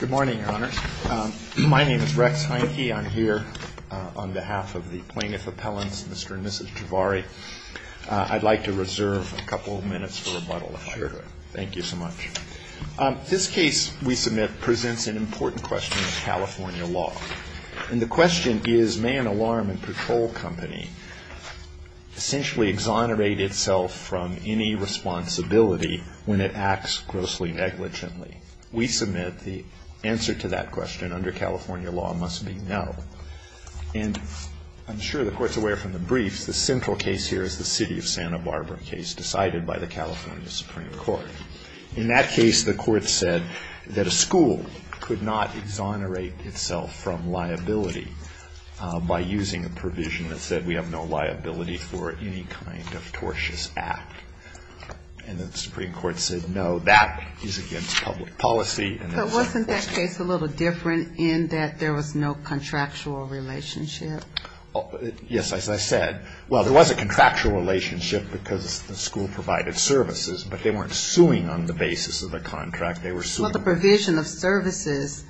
Good morning, Your Honor. My name is Rex Heineke. I'm here on behalf of the plaintiff appellants, Mr. and Mrs. Jhaveri. I'd like to reserve a couple of minutes for rebuttal, if I could. Thank you so much. This case we submit presents an important question of California law. And the question is, may an alarm and patrol company essentially exonerate itself from any responsibility when it acts grossly negligently? We submit the answer to that question under California law must be no. And I'm sure the Court's aware from the briefs, the central case here is the City of Santa Barbara case decided by the California Supreme Court. In that case, the Court said that a school could not exonerate itself from liability by using a provision that said we have no liability for any kind of tortious act. And the Supreme Court said, no, that is against public policy. But wasn't that case a little different in that there was no contractual relationship? Yes, as I said. Well, there was a contractual relationship because the school provided services, but they weren't suing on the basis of the contract. They were suing. Well, the provision of services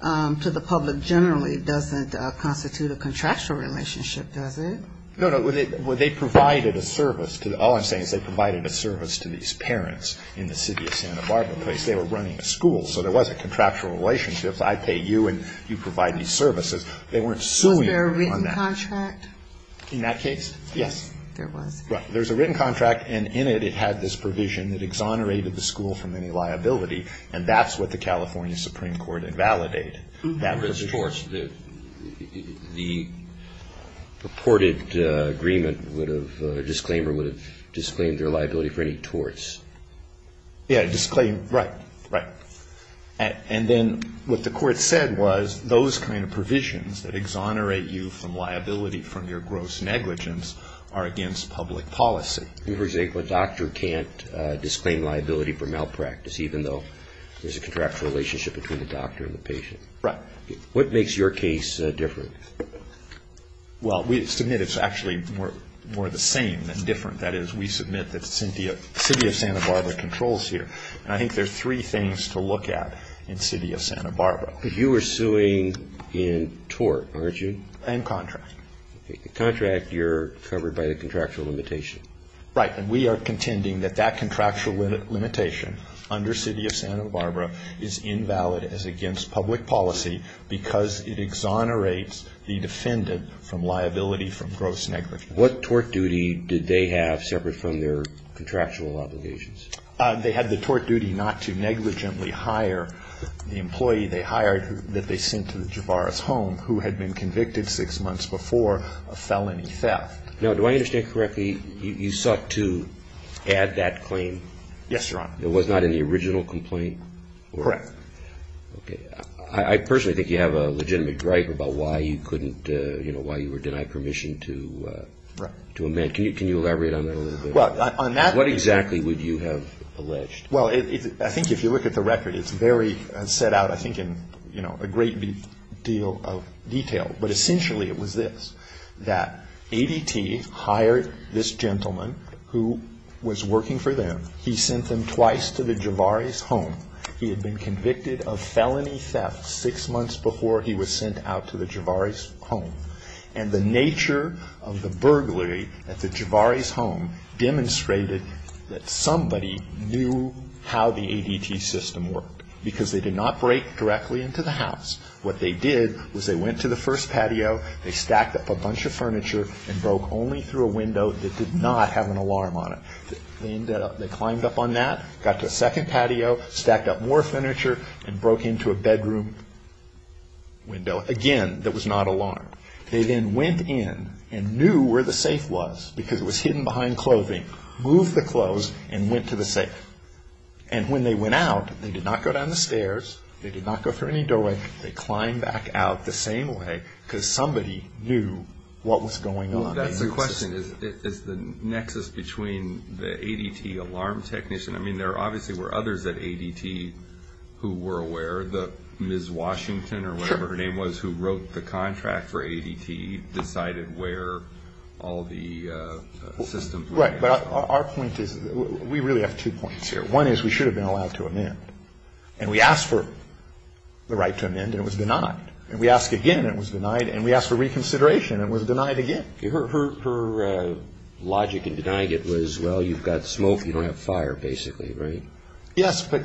to the public generally doesn't constitute a contractual relationship, does it? No, no, they provided a service. All I'm saying is they provided a service to these parents in the City of Santa Barbara case. They were running a school, so there wasn't contractual relationships. I pay you, and you provide me services. They weren't suing on that. Was there a written contract? In that case, yes. There was. Right. There's a written contract, and in it, it had this provision that exonerated the school from any liability. And that's what the California Supreme Court invalidated. That was torts. The purported agreement would have or disclaimer would have disclaimed their liability for any torts. Yeah, disclaimer. Right. Right. And then what the court said was those kind of provisions that exonerate you from liability from your gross negligence are against public policy. For example, a doctor can't disclaim liability for malpractice even though there's a contractual relationship between the doctor and the patient. Right. What makes your case different? Well, we submit it's actually more the same than different. That is, we submit that the City of Santa Barbara controls here. And I think there's three things to look at in the City of Santa Barbara. You were suing in tort, weren't you? And contract. The contract, you're covered by the contractual limitation. Right. And we are contending that that contractual limitation under City of Santa Barbara is invalid as against public policy because it exonerates the defendant from liability from gross negligence. What tort duty did they have separate from their contractual obligations? They had the tort duty not to negligently hire the employee they hired that they sent to the Javaris home who had been convicted six months before a felony theft. Now, do I understand correctly, you sought to add that claim? Yes, Your Honor. It was not in the original complaint? Correct. Okay. I personally think you have a legitimate gripe about why you couldn't, you know, why you were denied permission to amend. Can you elaborate on that a little bit? What exactly would you have alleged? Well, I think if you look at the record, it's very set out, I think, in, you know, a great deal of detail. But essentially it was this, that ADT hired this gentleman who was working for them. He sent them twice to the Javaris home. He had been convicted of felony theft six months before he was sent out to the Javaris home. And the nature of the burglary at the Javaris home demonstrated that somebody knew how the ADT system worked, because they did not break directly into the house. What they did was they went to the first patio, they stacked up a bunch of furniture, and broke only through a window that did not have an alarm on it. They ended up, they climbed up on that, got to the second patio, stacked up more furniture, and broke into a bedroom window, again, that was not alarmed. They then went in and knew where the safe was, because it was hidden behind clothing, moved the clothes, and went to the safe. And when they went out, they did not go down the stairs, they did not go through any doorway, they climbed back out the same way, because somebody knew what was going on. That's the question, is the nexus between the ADT alarm technician, I mean, there obviously were others at ADT who were aware, the Ms. Washington, or whatever her name was, who wrote the contract for ADT, decided where all the systems were. Right, but our point is, we really have two points here. One is, we should have been allowed to amend. And we asked for the right to amend, and it was denied. And we asked again, and it was denied. And we asked for reconsideration, and it was denied again. Her logic in denying it was, well, you've got smoke, you don't have fire, basically, right? Yes, but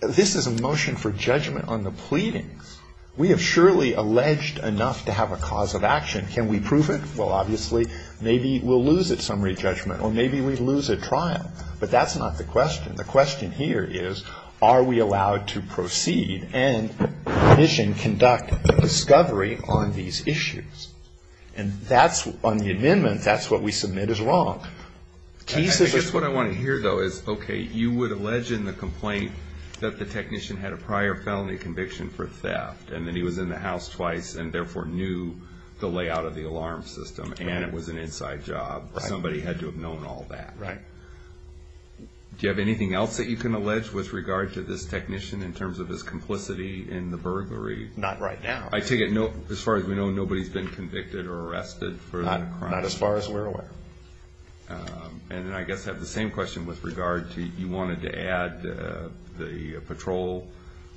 this is a motion for judgment on the pleadings. We have surely alleged enough to have a cause of action. Can we prove it? Well, obviously, maybe we'll lose it, summary judgment, or maybe we lose a trial. But that's not the question. The question here is, are we allowed to proceed and mission conduct discovery on these issues? And that's, on the amendment, that's what we submit as wrong. I guess what I want to hear, though, is, okay, you would allege in the complaint that the technician had a prior felony conviction for theft, and that he was in the house twice, and therefore knew the layout of the alarm system, and it was an inside job. Somebody had to have known all that. Right. Do you have anything else that you can allege with regard to this technician, in terms of his complicity in the burglary? Not right now. I take it, as far as we know, nobody's been convicted or arrested for the crime? Not as far as we're aware. And then I guess I have the same question with regard to, you wanted to add the patrol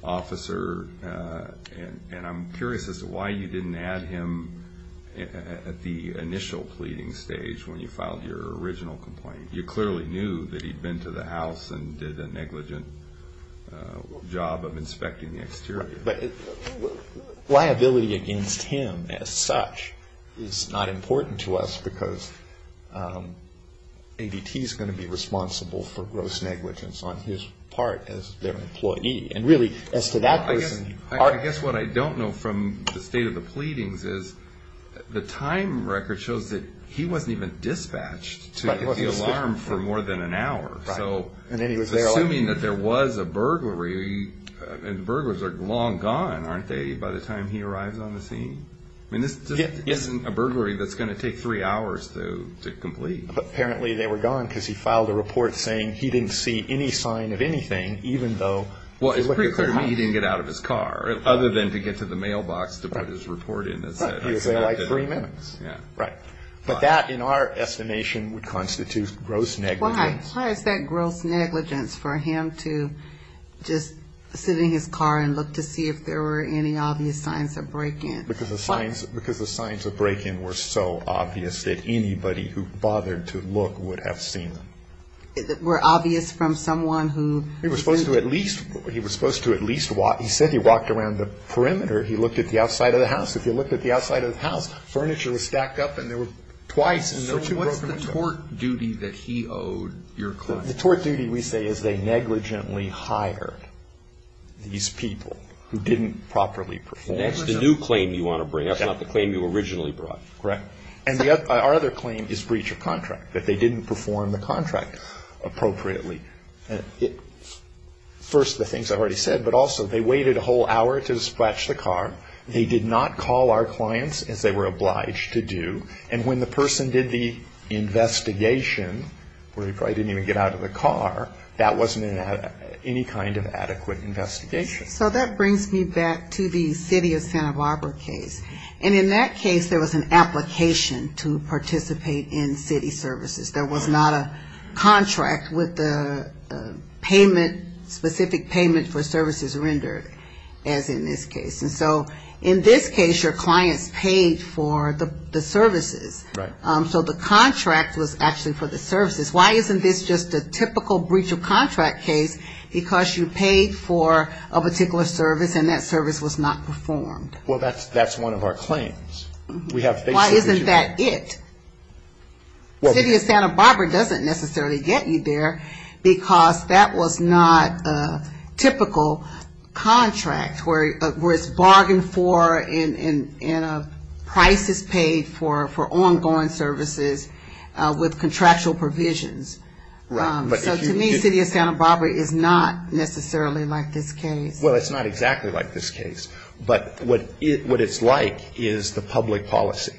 officer. And I'm curious as to why you didn't add him at the initial pleading stage, when you filed your original complaint. You clearly knew that he'd been to the house and did a negligent job of inspecting the exterior. But liability against him, as such, is not important to us, because ADT's going to be responsible for gross negligence on his part, as their employee. And really, as to that person, you are. I guess what I don't know, from the state of the pleadings, is the time record shows that he wasn't even dispatched to get the alarm for more than an hour. So, assuming that there was a burglary, and burglars are long gone, aren't they, by the time he arrives on the scene? I mean, this isn't a burglary that's going to take three hours to complete. But apparently they were gone because he filed a report saying he didn't see any sign of anything, even though... Well, it's pretty clear to me he didn't get out of his car, other than to get to the mailbox to put his report in. Right, he was there like three minutes. Yeah. Right. But that, in our estimation, would constitute gross negligence. Why? Why is that gross negligence, for him to just sit in his car and look to see if there were any obvious signs of break-in? Because the signs of break-in were so obvious that anybody who bothered to look would have seen them. Were obvious from someone who... He was supposed to at least, he said he walked around the perimeter, he looked at the outside of the house. If he looked at the outside of the house, furniture was stacked up and there were twice What's the tort duty that he owed your client? The tort duty, we say, is they negligently hired these people who didn't properly perform. That's the new claim you want to bring up, not the claim you originally brought. Correct. And our other claim is breach of contract, that they didn't perform the contract appropriately. First, the things I've already said, but also they waited a whole hour to dispatch the car. They did not call our clients, as they were obliged to do. And when the person did the investigation, where he probably didn't even get out of the car, that wasn't any kind of adequate investigation. So that brings me back to the city of Santa Barbara case. And in that case, there was an application to participate in city services. There was not a contract with the payment, specific payment for services rendered, as in this case. And so, in this case, your clients paid for the services, so the contract was actually for the services. Why isn't this just a typical breach of contract case, because you paid for a particular service and that service was not performed? Well, that's one of our claims. Why isn't that it? City of Santa Barbara doesn't necessarily get you there, because that was not a typical contract, where it's bargained for and a price is paid for ongoing services with contractual provisions. So to me, city of Santa Barbara is not necessarily like this case. Well, it's not exactly like this case, but what it's like is the public policy.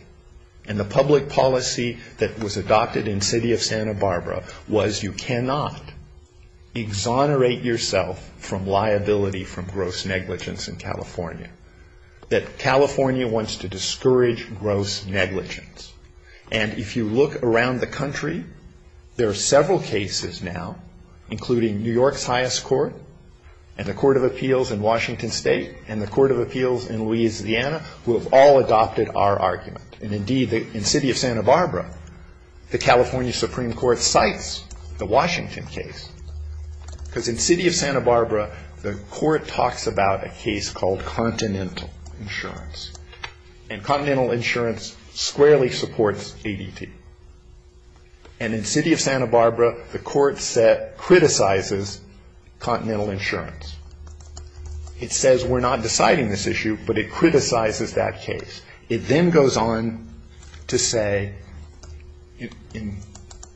And the public policy that was adopted in city of Santa Barbara was you cannot exonerate yourself from liability from gross negligence in California. That California wants to discourage gross negligence. And if you look around the country, there are several cases now, including New York's highest court, and the Court of Appeals in Washington State, and the Court of Appeals in Louisiana, who have all adopted our argument. And indeed, in city of Santa Barbara, the California Supreme Court cites the Washington case, because in city of Santa Barbara, the court talks about a case called Continental Insurance. And Continental Insurance squarely supports ADT. And in city of Santa Barbara, the court criticizes Continental Insurance. It says we're not deciding this issue, but it criticizes that case. It then goes on to say, in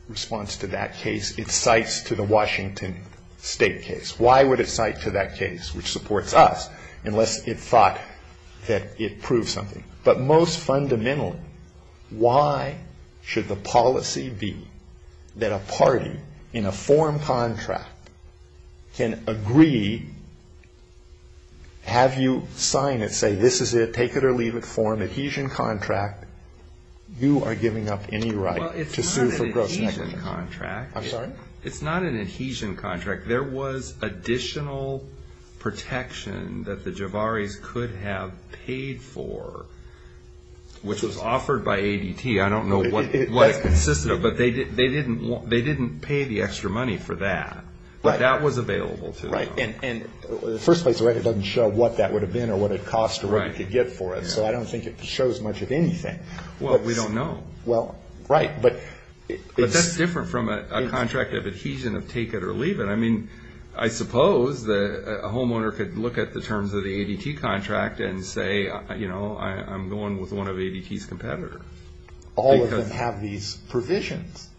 response to that case, it cites to the Washington State case. Why would it cite to that case, which supports us, unless it thought that it proved something? But most fundamentally, why should the policy be that a party in a form contract can agree, have you sign it, say this is it, take it or leave it form, adhesion contract, you are giving up any right to sue for gross negligence. I'm sorry? It's not an adhesion contract. There was additional protection that the Javaris could have paid for, which was offered by ADT. I don't know what it consisted of, but they didn't pay the extra money for that. But that was available to them. Right. And first place record doesn't show what that would have been or what it cost or what you could get for it. So I don't think it shows much of anything. Well, we don't know. Well, right. But it's different from a contract of adhesion of take it or leave it. I mean, I suppose that a homeowner could look at the terms of the ADT contract and say, you know, I'm going with one of ADT's competitors. All of them have these provisions.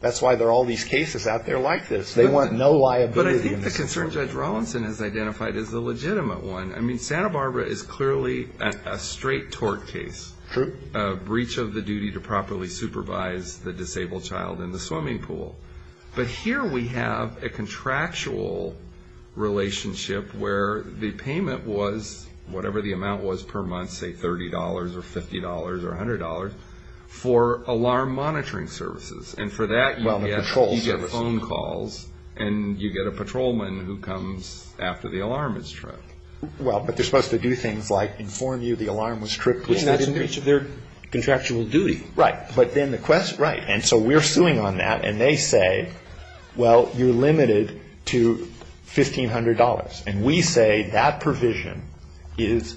That's why there are all these cases out there like this. They want no liability. But I think the concern Judge Rawlinson has identified is the legitimate one. I mean, Santa Barbara is clearly a straight tort case. True. A breach of the duty to properly supervise the disabled child in the swimming pool. But here we have a contractual relationship where the payment was whatever the amount was per month, say $30 or $50 or $100 for alarm monitoring services. And for that, you get phone calls and you get a patrolman who comes after the alarm is tripped. Well, but they're supposed to do things like inform you the alarm was tripped. Which they didn't do. Which is their contractual duty. Right. But then the quest, right. And they say, well, you're limited to $1,500. And we say that provision is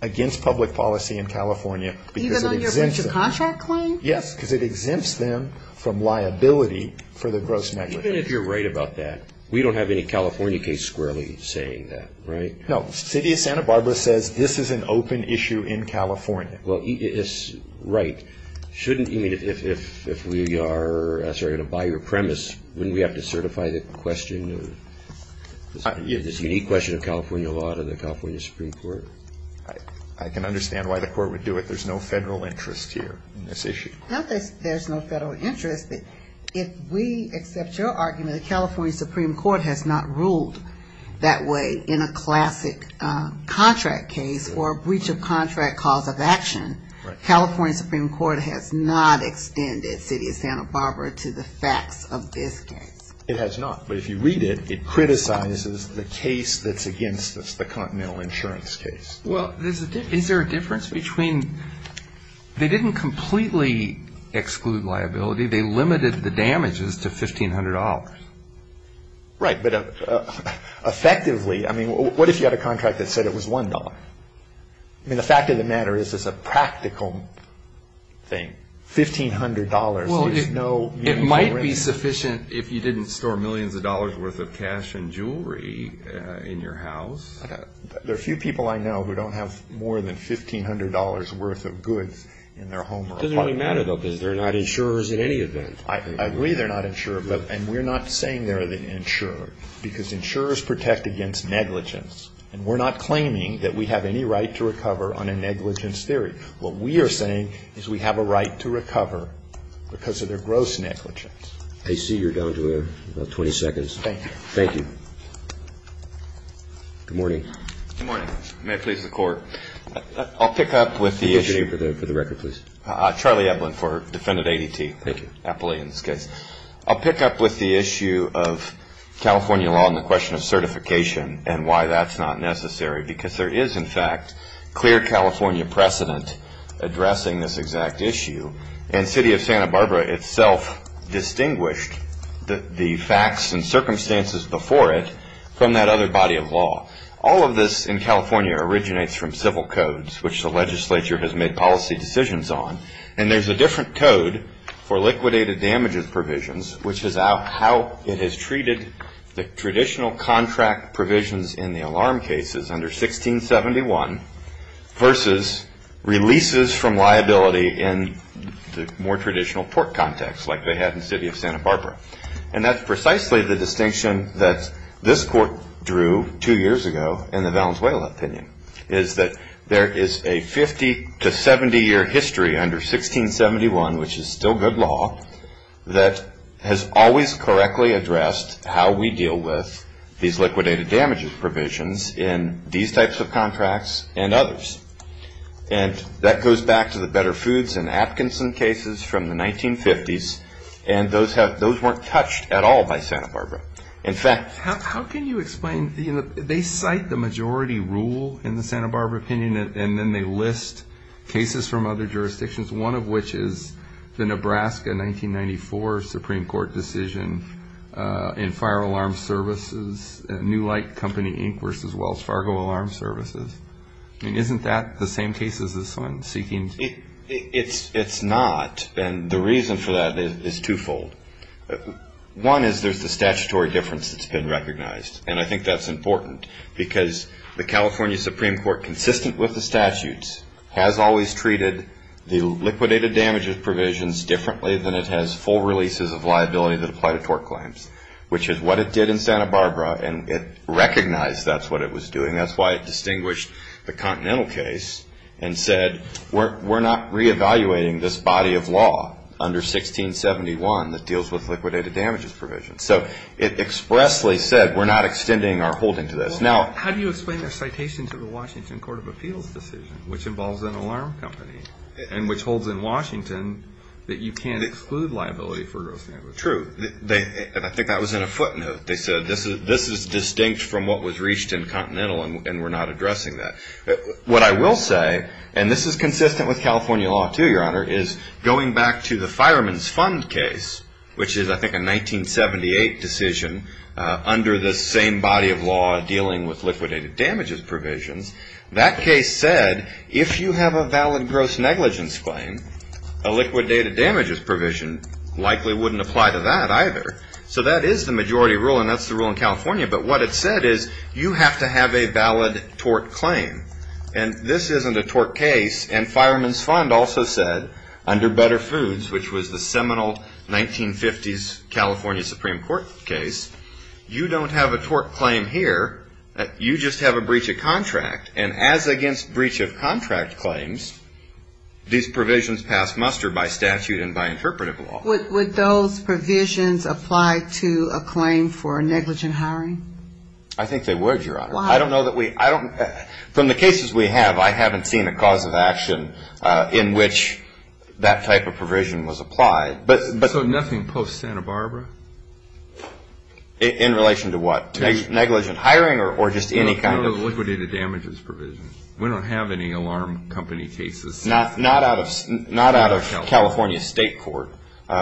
against public policy in California because it exempts them. Even on your breach of contract claim? Yes. Because it exempts them from liability for the gross negligence. Even if you're right about that, we don't have any California case squarely saying that, right? No. City of Santa Barbara says this is an open issue in California. Well, it's right. Shouldn't, you mean, if we are, sorry, by your premise, wouldn't we have to certify the question of this unique question of California law to the California Supreme Court? I can understand why the court would do it. There's no federal interest here in this issue. Not that there's no federal interest, but if we accept your argument that California Supreme Court has not ruled that way in a classic contract case or a breach of contract cause of action, California Supreme Court has not extended City of Santa Barbara to the facts of this case. It has not. But if you read it, it criticizes the case that's against us, the Continental Insurance case. Well, is there a difference between, they didn't completely exclude liability. They limited the damages to $1,500. Right. But effectively, I mean, what if you had a contract that said it was $1? I mean, the fact of the matter is it's a practical thing, $1,500, there's no. It might be sufficient if you didn't store millions of dollars worth of cash and jewelry in your house. There are a few people I know who don't have more than $1,500 worth of goods in their home or apartment. It doesn't really matter, though, because they're not insurers in any event. I agree they're not insurers, and we're not saying they're insurers, because insurers protect against negligence. And we're not claiming that we have any right to recover on a negligence theory. What we are saying is we have a right to recover because of their gross negligence. I see you're down to about 20 seconds. Thank you. Thank you. Good morning. Good morning. May it please the Court. I'll pick up with the issue. Can you repeat your name for the record, please? Charlie Epplin for Defendant ADT. Thank you. Epplin in this case. I'll pick up with the issue of California law and the question of certification and why that's not necessary, because there is, in fact, clear California precedent addressing this exact issue. And City of Santa Barbara itself distinguished the facts and circumstances before it from that other body of law. All of this in California originates from civil codes, which the legislature has made policy decisions on. And there's a different code for liquidated damages provisions, which is how it has treated the traditional contract provisions in the alarm cases under 1671 versus releases from liability in the more traditional port context like they had in City of Santa Barbara. And that's precisely the distinction that this court drew two years ago in the Valenzuela opinion, is that there is a 50 to 70-year history under 1671, which is still good law, that has always correctly addressed how we deal with these liquidated damages provisions in these types of contracts and others. And that goes back to the Better Foods and Atkinson cases from the 1950s, and those weren't touched at all by Santa Barbara. In fact, how can you explain, you know, they cite the majority rule in the Santa Barbara opinion, and then they list cases from other jurisdictions, one of which is the Nebraska 1994 Supreme Court decision in Fire Alarm Services, New Light Company, Inc., versus Wells Fargo Alarm Services. I mean, isn't that the same case as this one, seeking? It's not, and the reason for that is twofold. One is there's the statutory difference that's been recognized, and I think that's important, because the California Supreme Court, consistent with the statutes, has always treated the liquidated damages provisions differently than it has full releases of liability that apply to tort claims, which is what it did in Santa Barbara, and it recognized that's what it was doing. That's why it distinguished the Continental case and said, we're not reevaluating this body of law under 1671. It deals with liquidated damages provisions, so it expressly said, we're not extending our holding to this. Now, how do you explain their citation to the Washington Court of Appeals decision, which involves an alarm company, and which holds in Washington that you can't exclude liability for gross damage? True, and I think that was in a footnote. They said, this is distinct from what was reached in Continental, and we're not addressing that. What I will say, and this is consistent with California law, too, Your Honor, is going back to the Fireman's Fund case, which is, I think, a 1978 decision under the same body of law dealing with liquidated damages provisions. That case said, if you have a valid gross negligence claim, a liquidated damages provision likely wouldn't apply to that either. So that is the majority rule, and that's the rule in California, but what it said is, you have to have a valid tort claim, and this isn't a tort case, and Fireman's Fund also said, under Better Foods, which was the seminal 1950s California Supreme Court case, you don't have a tort claim here, you just have a breach of contract, and as against breach of contract claims, these provisions pass muster by statute and by interpretive law. Would those provisions apply to a claim for negligent hiring? I think they would, Your Honor. Why? I don't know that we, I don't, from the cases we have, I haven't seen a cause of action in which that type of provision was applied. So nothing post-Santa Barbara? In relation to what? Negligent hiring or just any kind of? No liquidated damages provision. We don't have any alarm company cases. Not out of California State Court.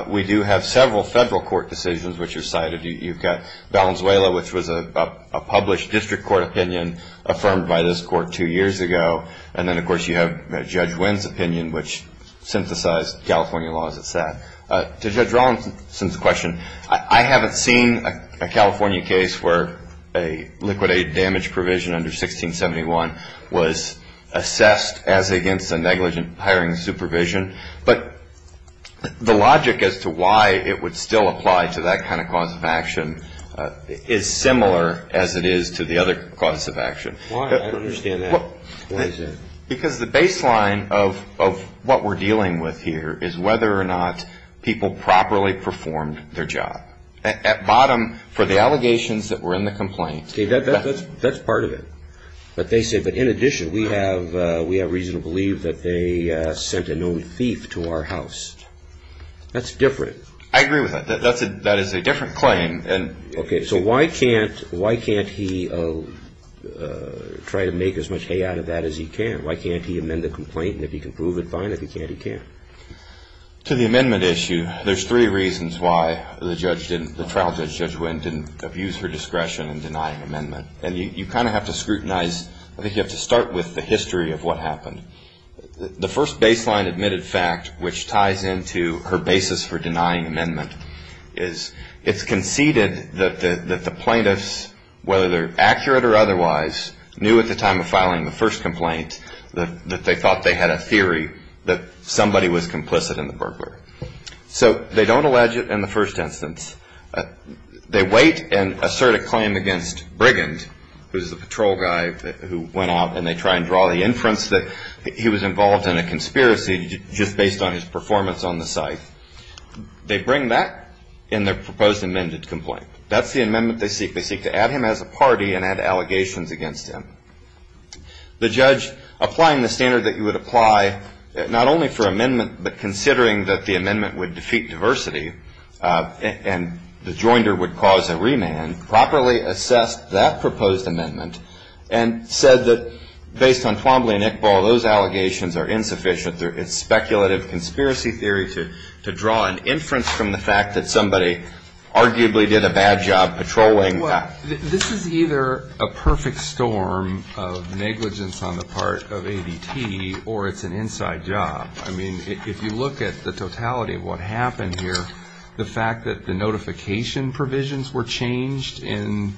We do have several federal court decisions which are cited. You've got Valenzuela, which was a published district court opinion affirmed by this court two years ago, and then of course you have Judge Wynn's opinion which synthesized California law as it sat. To Judge Rawlinson's question, I haven't seen a California case where a liquidated damage provision under 1671 was assessed as against a negligent hiring supervision, but the logic as to why it would still apply to that kind of cause of action is similar as it is to the other cause of action. Why? I don't understand that. Why is that? Because the baseline of what we're dealing with here is whether or not people properly performed their job. At bottom, for the allegations that were in the complaint. See, that's part of it. But they say, but in addition, we have reason to believe that they sent a known thief to our house. That's different. I agree with that. That is a different claim. Okay, so why can't he try to make as much hay out of that as he can? Why can't he amend the complaint? And if he can prove it, fine. If he can't, he can't. To the amendment issue, there's three reasons why the trial judge, Judge Wynn, didn't abuse her discretion in denying amendment. And you kind of have to scrutinize, I think you have to start with the history of what happened. The first baseline admitted fact, which ties into her basis for denying amendment, is it's conceded that the plaintiffs, whether they're accurate or otherwise, knew at the time of filing the first complaint that they thought they had a theory that somebody was complicit in the burglary. So they don't allege it in the first instance. They wait and assert a claim against Brigand, who's the patrol guy who went out and they try and draw the inference that he was involved in a conspiracy just based on his performance on the site. They bring that in their proposed amended complaint. That's the amendment they seek. They seek to add him as a party and add allegations against him. The judge, applying the standard that you would apply, not only for amendment, but the joinder would cause a remand, properly assessed that proposed amendment and said that based on Twombly and Iqbal, those allegations are insufficient. It's speculative conspiracy theory to draw an inference from the fact that somebody arguably did a bad job patrolling. Well, this is either a perfect storm of negligence on the part of ADT or it's an inside job. I mean, if you look at the totality of what happened here, the fact that the notification provisions were changed in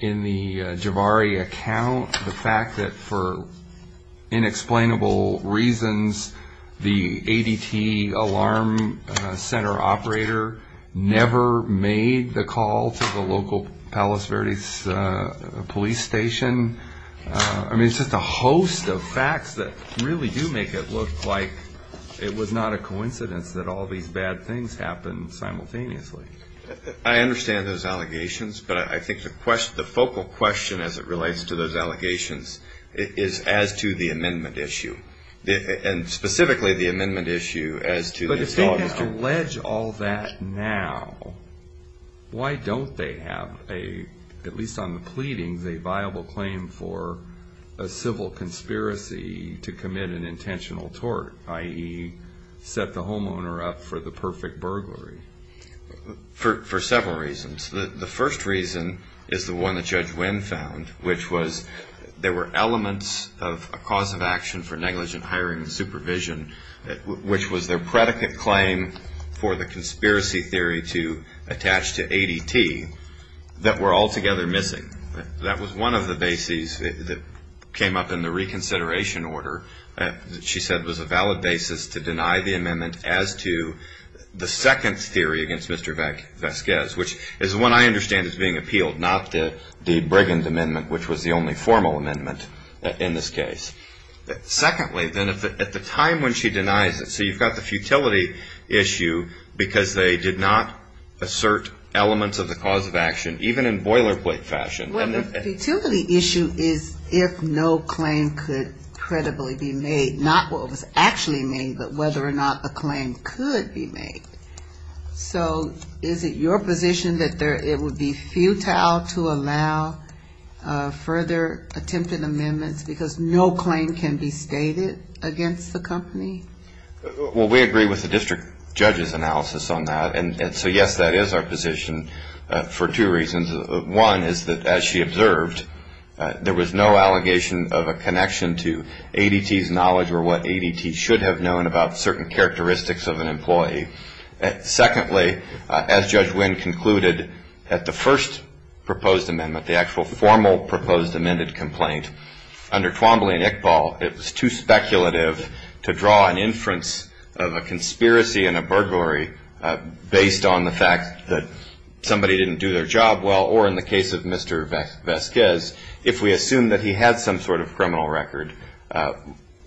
the Javari account, the fact that for inexplainable reasons, the ADT alarm center operator never made the call to the local Palos Verdes police station. I mean, it's just a host of facts that really do make it look like it was not a coincidence that all these bad things happened simultaneously. I understand those allegations, but I think the question, the focal question as it relates to those allegations is as to the amendment issue. And specifically, the amendment issue as to- But if they can allege all that now, why don't they have a, at least on the pleadings, a viable claim for a civil conspiracy to commit an intentional tort, i.e. set the homeowner up for the perfect burglary? For several reasons. The first reason is the one that Judge Wynn found, which was there were elements of a cause of action for negligent hiring and supervision, which was their predicate claim for the conspiracy theory to attach to ADT, that were altogether missing. That was one of the bases that came up in the reconsideration order, that she said was a valid basis to deny the amendment as to the second theory against Mr. Vasquez, which is the one I understand as being appealed, not the Brigham amendment, which was the only formal amendment in this case. Secondly, then at the time when she denies it, so you've got the futility issue because they did not assert elements of the cause of action, even in boilerplate fashion. Well, the futility issue is if no claim could credibly be made, not what was actually made, but whether or not a claim could be made. So is it your position that it would be futile to allow further attempted amendments because no claim can be stated against the company? Well, we agree with the district judge's analysis on that. And so, yes, that is our position for two reasons. One is that, as she observed, there was no allegation of a connection to ADT's knowledge or what ADT should have known about certain characteristics of an employee. Secondly, as Judge Wynn concluded at the first proposed amendment, the actual formal proposed amended complaint, under Twombly and Iqbal, it was too speculative to draw an inference of a conspiracy and a burglary based on the fact that somebody didn't do their job well, or in the case of Mr. Vasquez, if we assume that he had some sort of criminal record,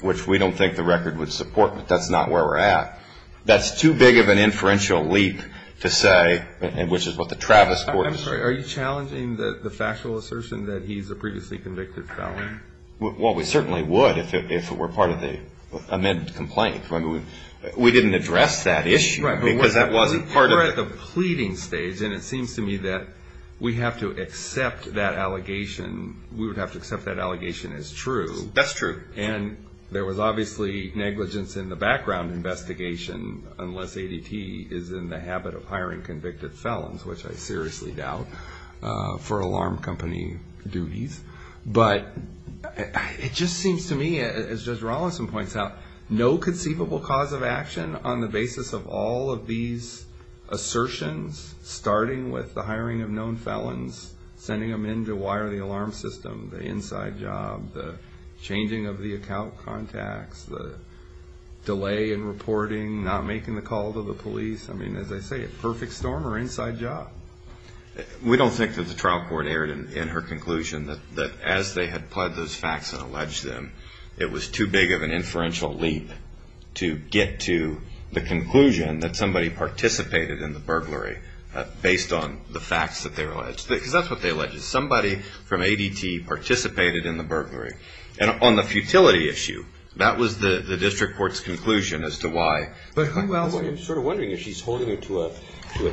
which we don't think the record would support, but that's not where we're at. That's too big of an inferential leap to say, which is what the Travis Court is saying. I'm sorry, are you challenging the factual assertion that he's a previously convicted felon? Well, we certainly would if it were part of the amended complaint. We didn't address that issue, because that wasn't part of it. We're at the pleading stage, and it seems to me that we have to accept that allegation. We would have to accept that allegation as true. That's true. And there was obviously negligence in the background investigation, unless ADT is in the habit of hiring convicted felons, which I seriously doubt, for alarm company duties. But it just seems to me, as Judge Rawlinson points out, no conceivable cause of action on the basis of all of these assertions, starting with the hiring of known felons, sending them in to wire the alarm system, the inside job, the changing of the account contacts, the delay in reporting, not making the call to the police. I mean, as I say, a perfect storm or inside job. We don't think that the trial court erred in her conclusion that as they had pled those facts and alleged them, it was too big of an inferential leap to get to the conclusion that somebody participated in the burglary based on the facts that they alleged. Because that's what they alleged, somebody from ADT participated in the burglary. And on the futility issue, that was the district court's conclusion as to why. But I'm sort of wondering if she's holding it to a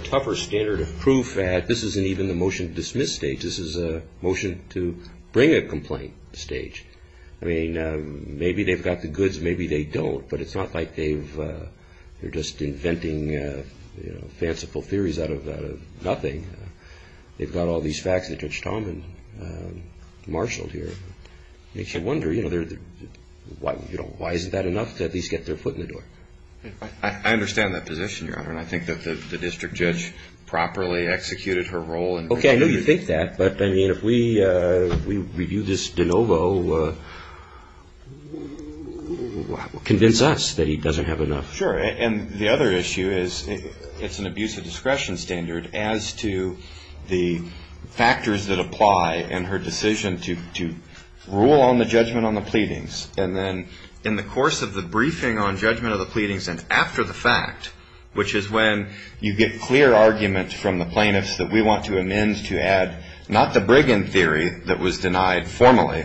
tougher standard of proof that this isn't even the motion to dismiss stage. This is a motion to bring a complaint stage. I mean, maybe they've got the goods, maybe they don't. But it's not like they're just inventing fanciful theories out of nothing. They've got all these facts that Judge Tomlin marshaled here. Makes you wonder, you know, why isn't that enough to at least get their foot in the door? I understand that position, Your Honor. And I think that the district judge properly executed her role. Okay, I know you think that. But, I mean, if we review this de novo, convince us that he doesn't have enough. Sure. And the other issue is it's an abuse of discretion standard as to the factors that apply in her decision to rule on the judgment on the pleadings. And then in the course of the briefing on judgment of the pleadings and after the fact, which is when you get clear argument from the plaintiffs that we want to amend to add, not the Brigham theory that was denied formally,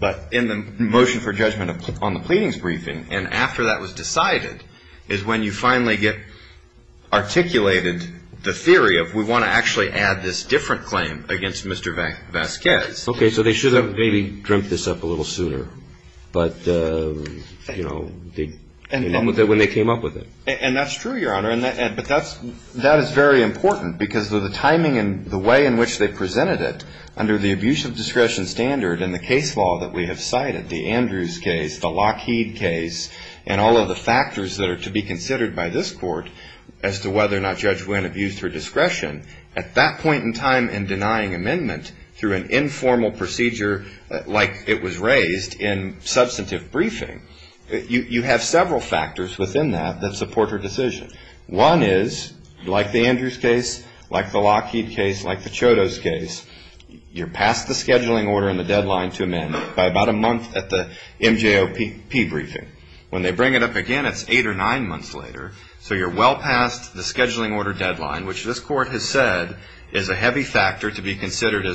but in the motion for judgment on the pleadings briefing, and after that was decided, is when you finally get articulated the theory of we want to actually add this different claim against Mr. Vasquez. Okay, so they should have maybe dreamt this up a little sooner. But, you know, when they came up with it. And that's true, Your Honor. But that is very important because of the timing and the way in which they presented it under the abuse of discretion standard and the case law that we have cited, the Andrews case, the Lockheed case, and all of the factors that are to be considered by this court as to whether or not Judge Wynn abused her discretion, at that point in time in denying amendment through an informal procedure like it was raised in substantive briefing, you have several factors within that that support her decision. One is, like the Andrews case, like the Lockheed case, like the Chodos case, you're past the scheduling order and the deadline to amend by about a month at the MJOPP briefing. When they bring it up again, it's eight or nine months later. So you're well past the scheduling order deadline, which this court has said is a heavy factor to be considered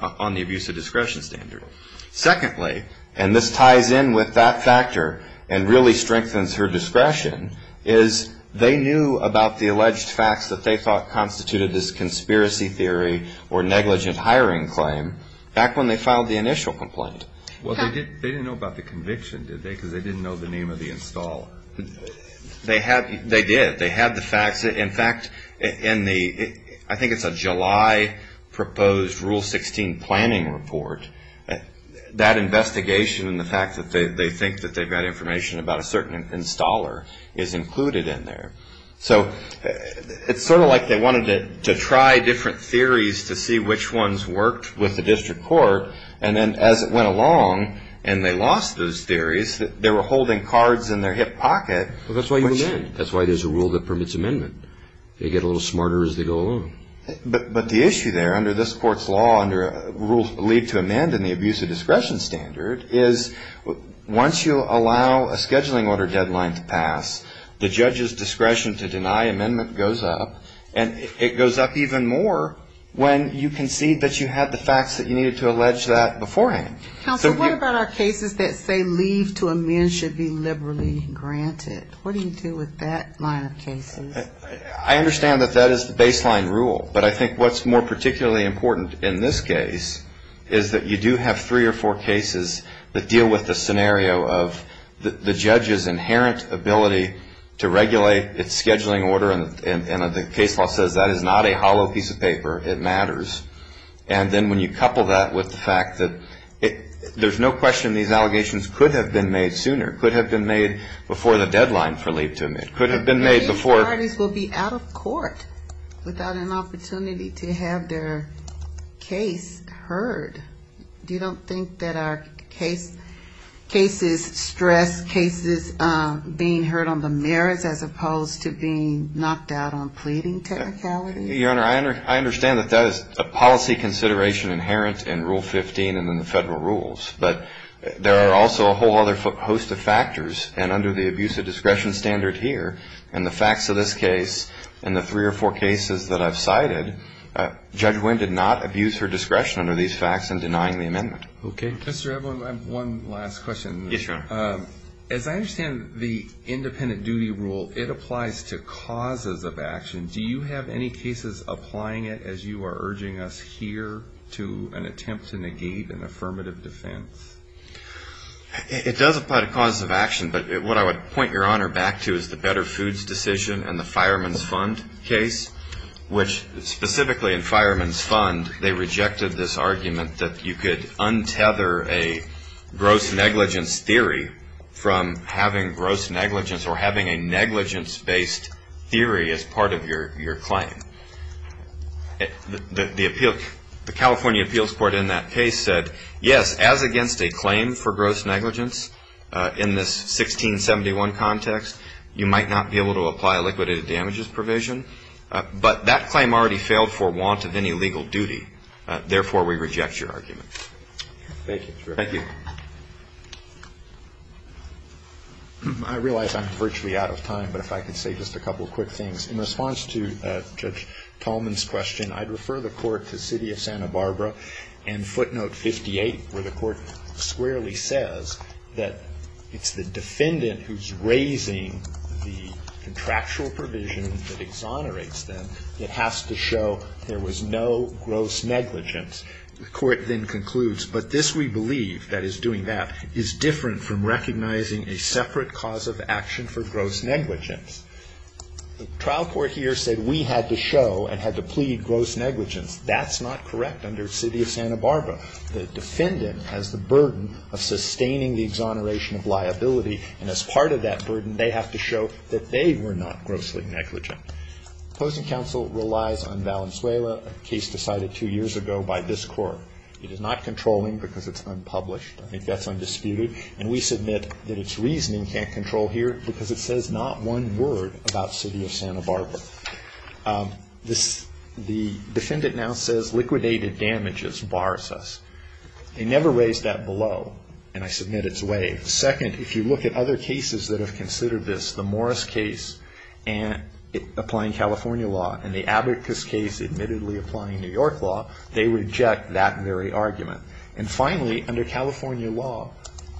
on the abuse of discretion standard. Secondly, and this ties in with that factor and really strengthens her discretion, is they knew about the alleged facts that they thought constituted this conspiracy theory or negligent hiring claim back when they filed the initial complaint. Well, they didn't know about the conviction, did they? Because they didn't know the name of the installer. Well, they did. They had the facts. In fact, in the, I think it's a July proposed Rule 16 planning report, that investigation and the fact that they think that they've got information about a certain installer is included in there. So it's sort of like they wanted to try different theories to see which ones worked with the district court, and then as it went along and they lost those theories, they were holding cards in their hip pocket. Well, that's why you amend. That's why there's a rule that permits amendment. They get a little smarter as they go along. But the issue there under this court's law under rules believed to amend in the abuse of discretion standard is once you allow a scheduling order deadline to pass, the judge's discretion to deny amendment goes up, and it goes up even more when you concede that you had the facts that you needed to allege that beforehand. Counsel, what about our cases that say leave to amend should be liberally granted? What do you do with that line of cases? I understand that that is the baseline rule. But I think what's more particularly important in this case is that you do have three or four cases that deal with the scenario of the judge's inherent ability to regulate its scheduling order, and the case law says that is not a hollow piece of paper, it matters. And then when you couple that with the fact that there's no question these allegations could have been made sooner, could have been made before the deadline for leave to amend, could have been made before. But many parties will be out of court without an opportunity to have their case heard. Do you don't think that our cases stress cases being heard on the merits as opposed to being knocked out on pleading technicality? Your Honor, I understand that that is a policy consideration inherent in Rule 15 and in the federal rules. But there are also a whole other host of factors, and under the abuse of discretion standard here, and the facts of this case, and the three or four cases that I've cited, Judge Winn did not abuse her discretion under these facts in denying the amendment. Okay. Mr. Evelyn, I have one last question. Yes, Your Honor. As I understand the independent duty rule, it applies to causes of action. Do you have any cases applying it, as you are urging us here, to an attempt to negate an affirmative defense? It does apply to causes of action, but what I would point Your Honor back to is the Better Foods decision and the Fireman's Fund case, which specifically in Fireman's Fund, they rejected this argument that you could untether a gross negligence theory from having gross negligence or having a negligence-based theory as part of your claim. The California Appeals Court in that case said, yes, as against a claim for gross negligence in this 1671 context, you might not be able to apply a liquidated damages provision. But that claim already failed for want of any legal duty. Therefore, we reject your argument. Thank you, Mr. Ripper. Thank you. I realize I'm virtually out of time, but if I could say just a couple quick things. In response to Judge Tallman's question, I'd refer the court to City of Santa Barbara and footnote 58, where the court squarely says that it's the defendant who's raising the contractual provision that exonerates them that has to show there was no gross negligence. The court then concludes, but this we believe, that is doing that, is different from recognizing a separate cause of action for gross negligence. The trial court here said we had to show and had to plead gross negligence. That's not correct under City of Santa Barbara. The defendant has the burden of sustaining the exoneration of liability. And as part of that burden, they have to show that they were not grossly negligent. Opposing counsel relies on Valenzuela, a case decided two years ago by this court. It is not controlling because it's unpublished. I think that's undisputed. And we submit that it's reasoning can't control here because it says not one word about City of Santa Barbara. This, the defendant now says liquidated damages bars us. They never raised that below, and I submit it's way. Second, if you look at other cases that have considered this, the Morris case, and applying California law, and the Abacus case admittedly applying New York law, they reject that very argument. And finally, under California law,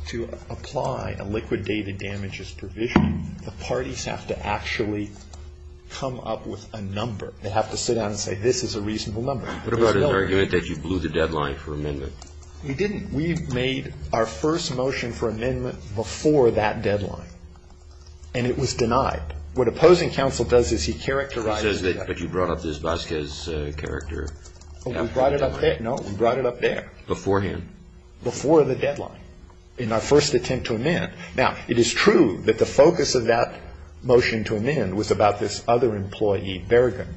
to apply a liquidated damages provision, the parties have to actually come up with a number. They have to sit down and say, this is a reasonable number. What about an argument that you blew the deadline for amendment? We didn't. We made our first motion for amendment before that deadline. And it was denied. What opposing counsel does is he characterizes it. But you brought up this Vasquez character. We brought it up there. No, we brought it up there. Beforehand. Before the deadline. In our first attempt to amend. Now, it is true that the focus of that motion to amend was about this other employee, Bergen.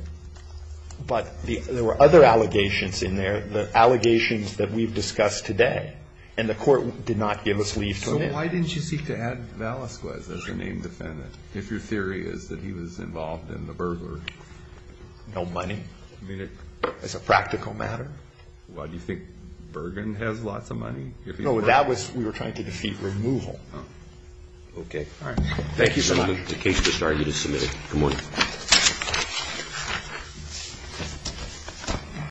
But there were other allegations in there, the allegations that we've discussed today. And the court did not give us leave to amend. So why didn't you seek to add Vasquez as a named defendant? If your theory is that he was involved in the burglar? No money. I mean, it's a practical matter. Why, do you think Bergen has lots of money? No, that was, we were trying to defeat removal. Okay. All right. Thank you so much. The case is starting to submit. Good morning.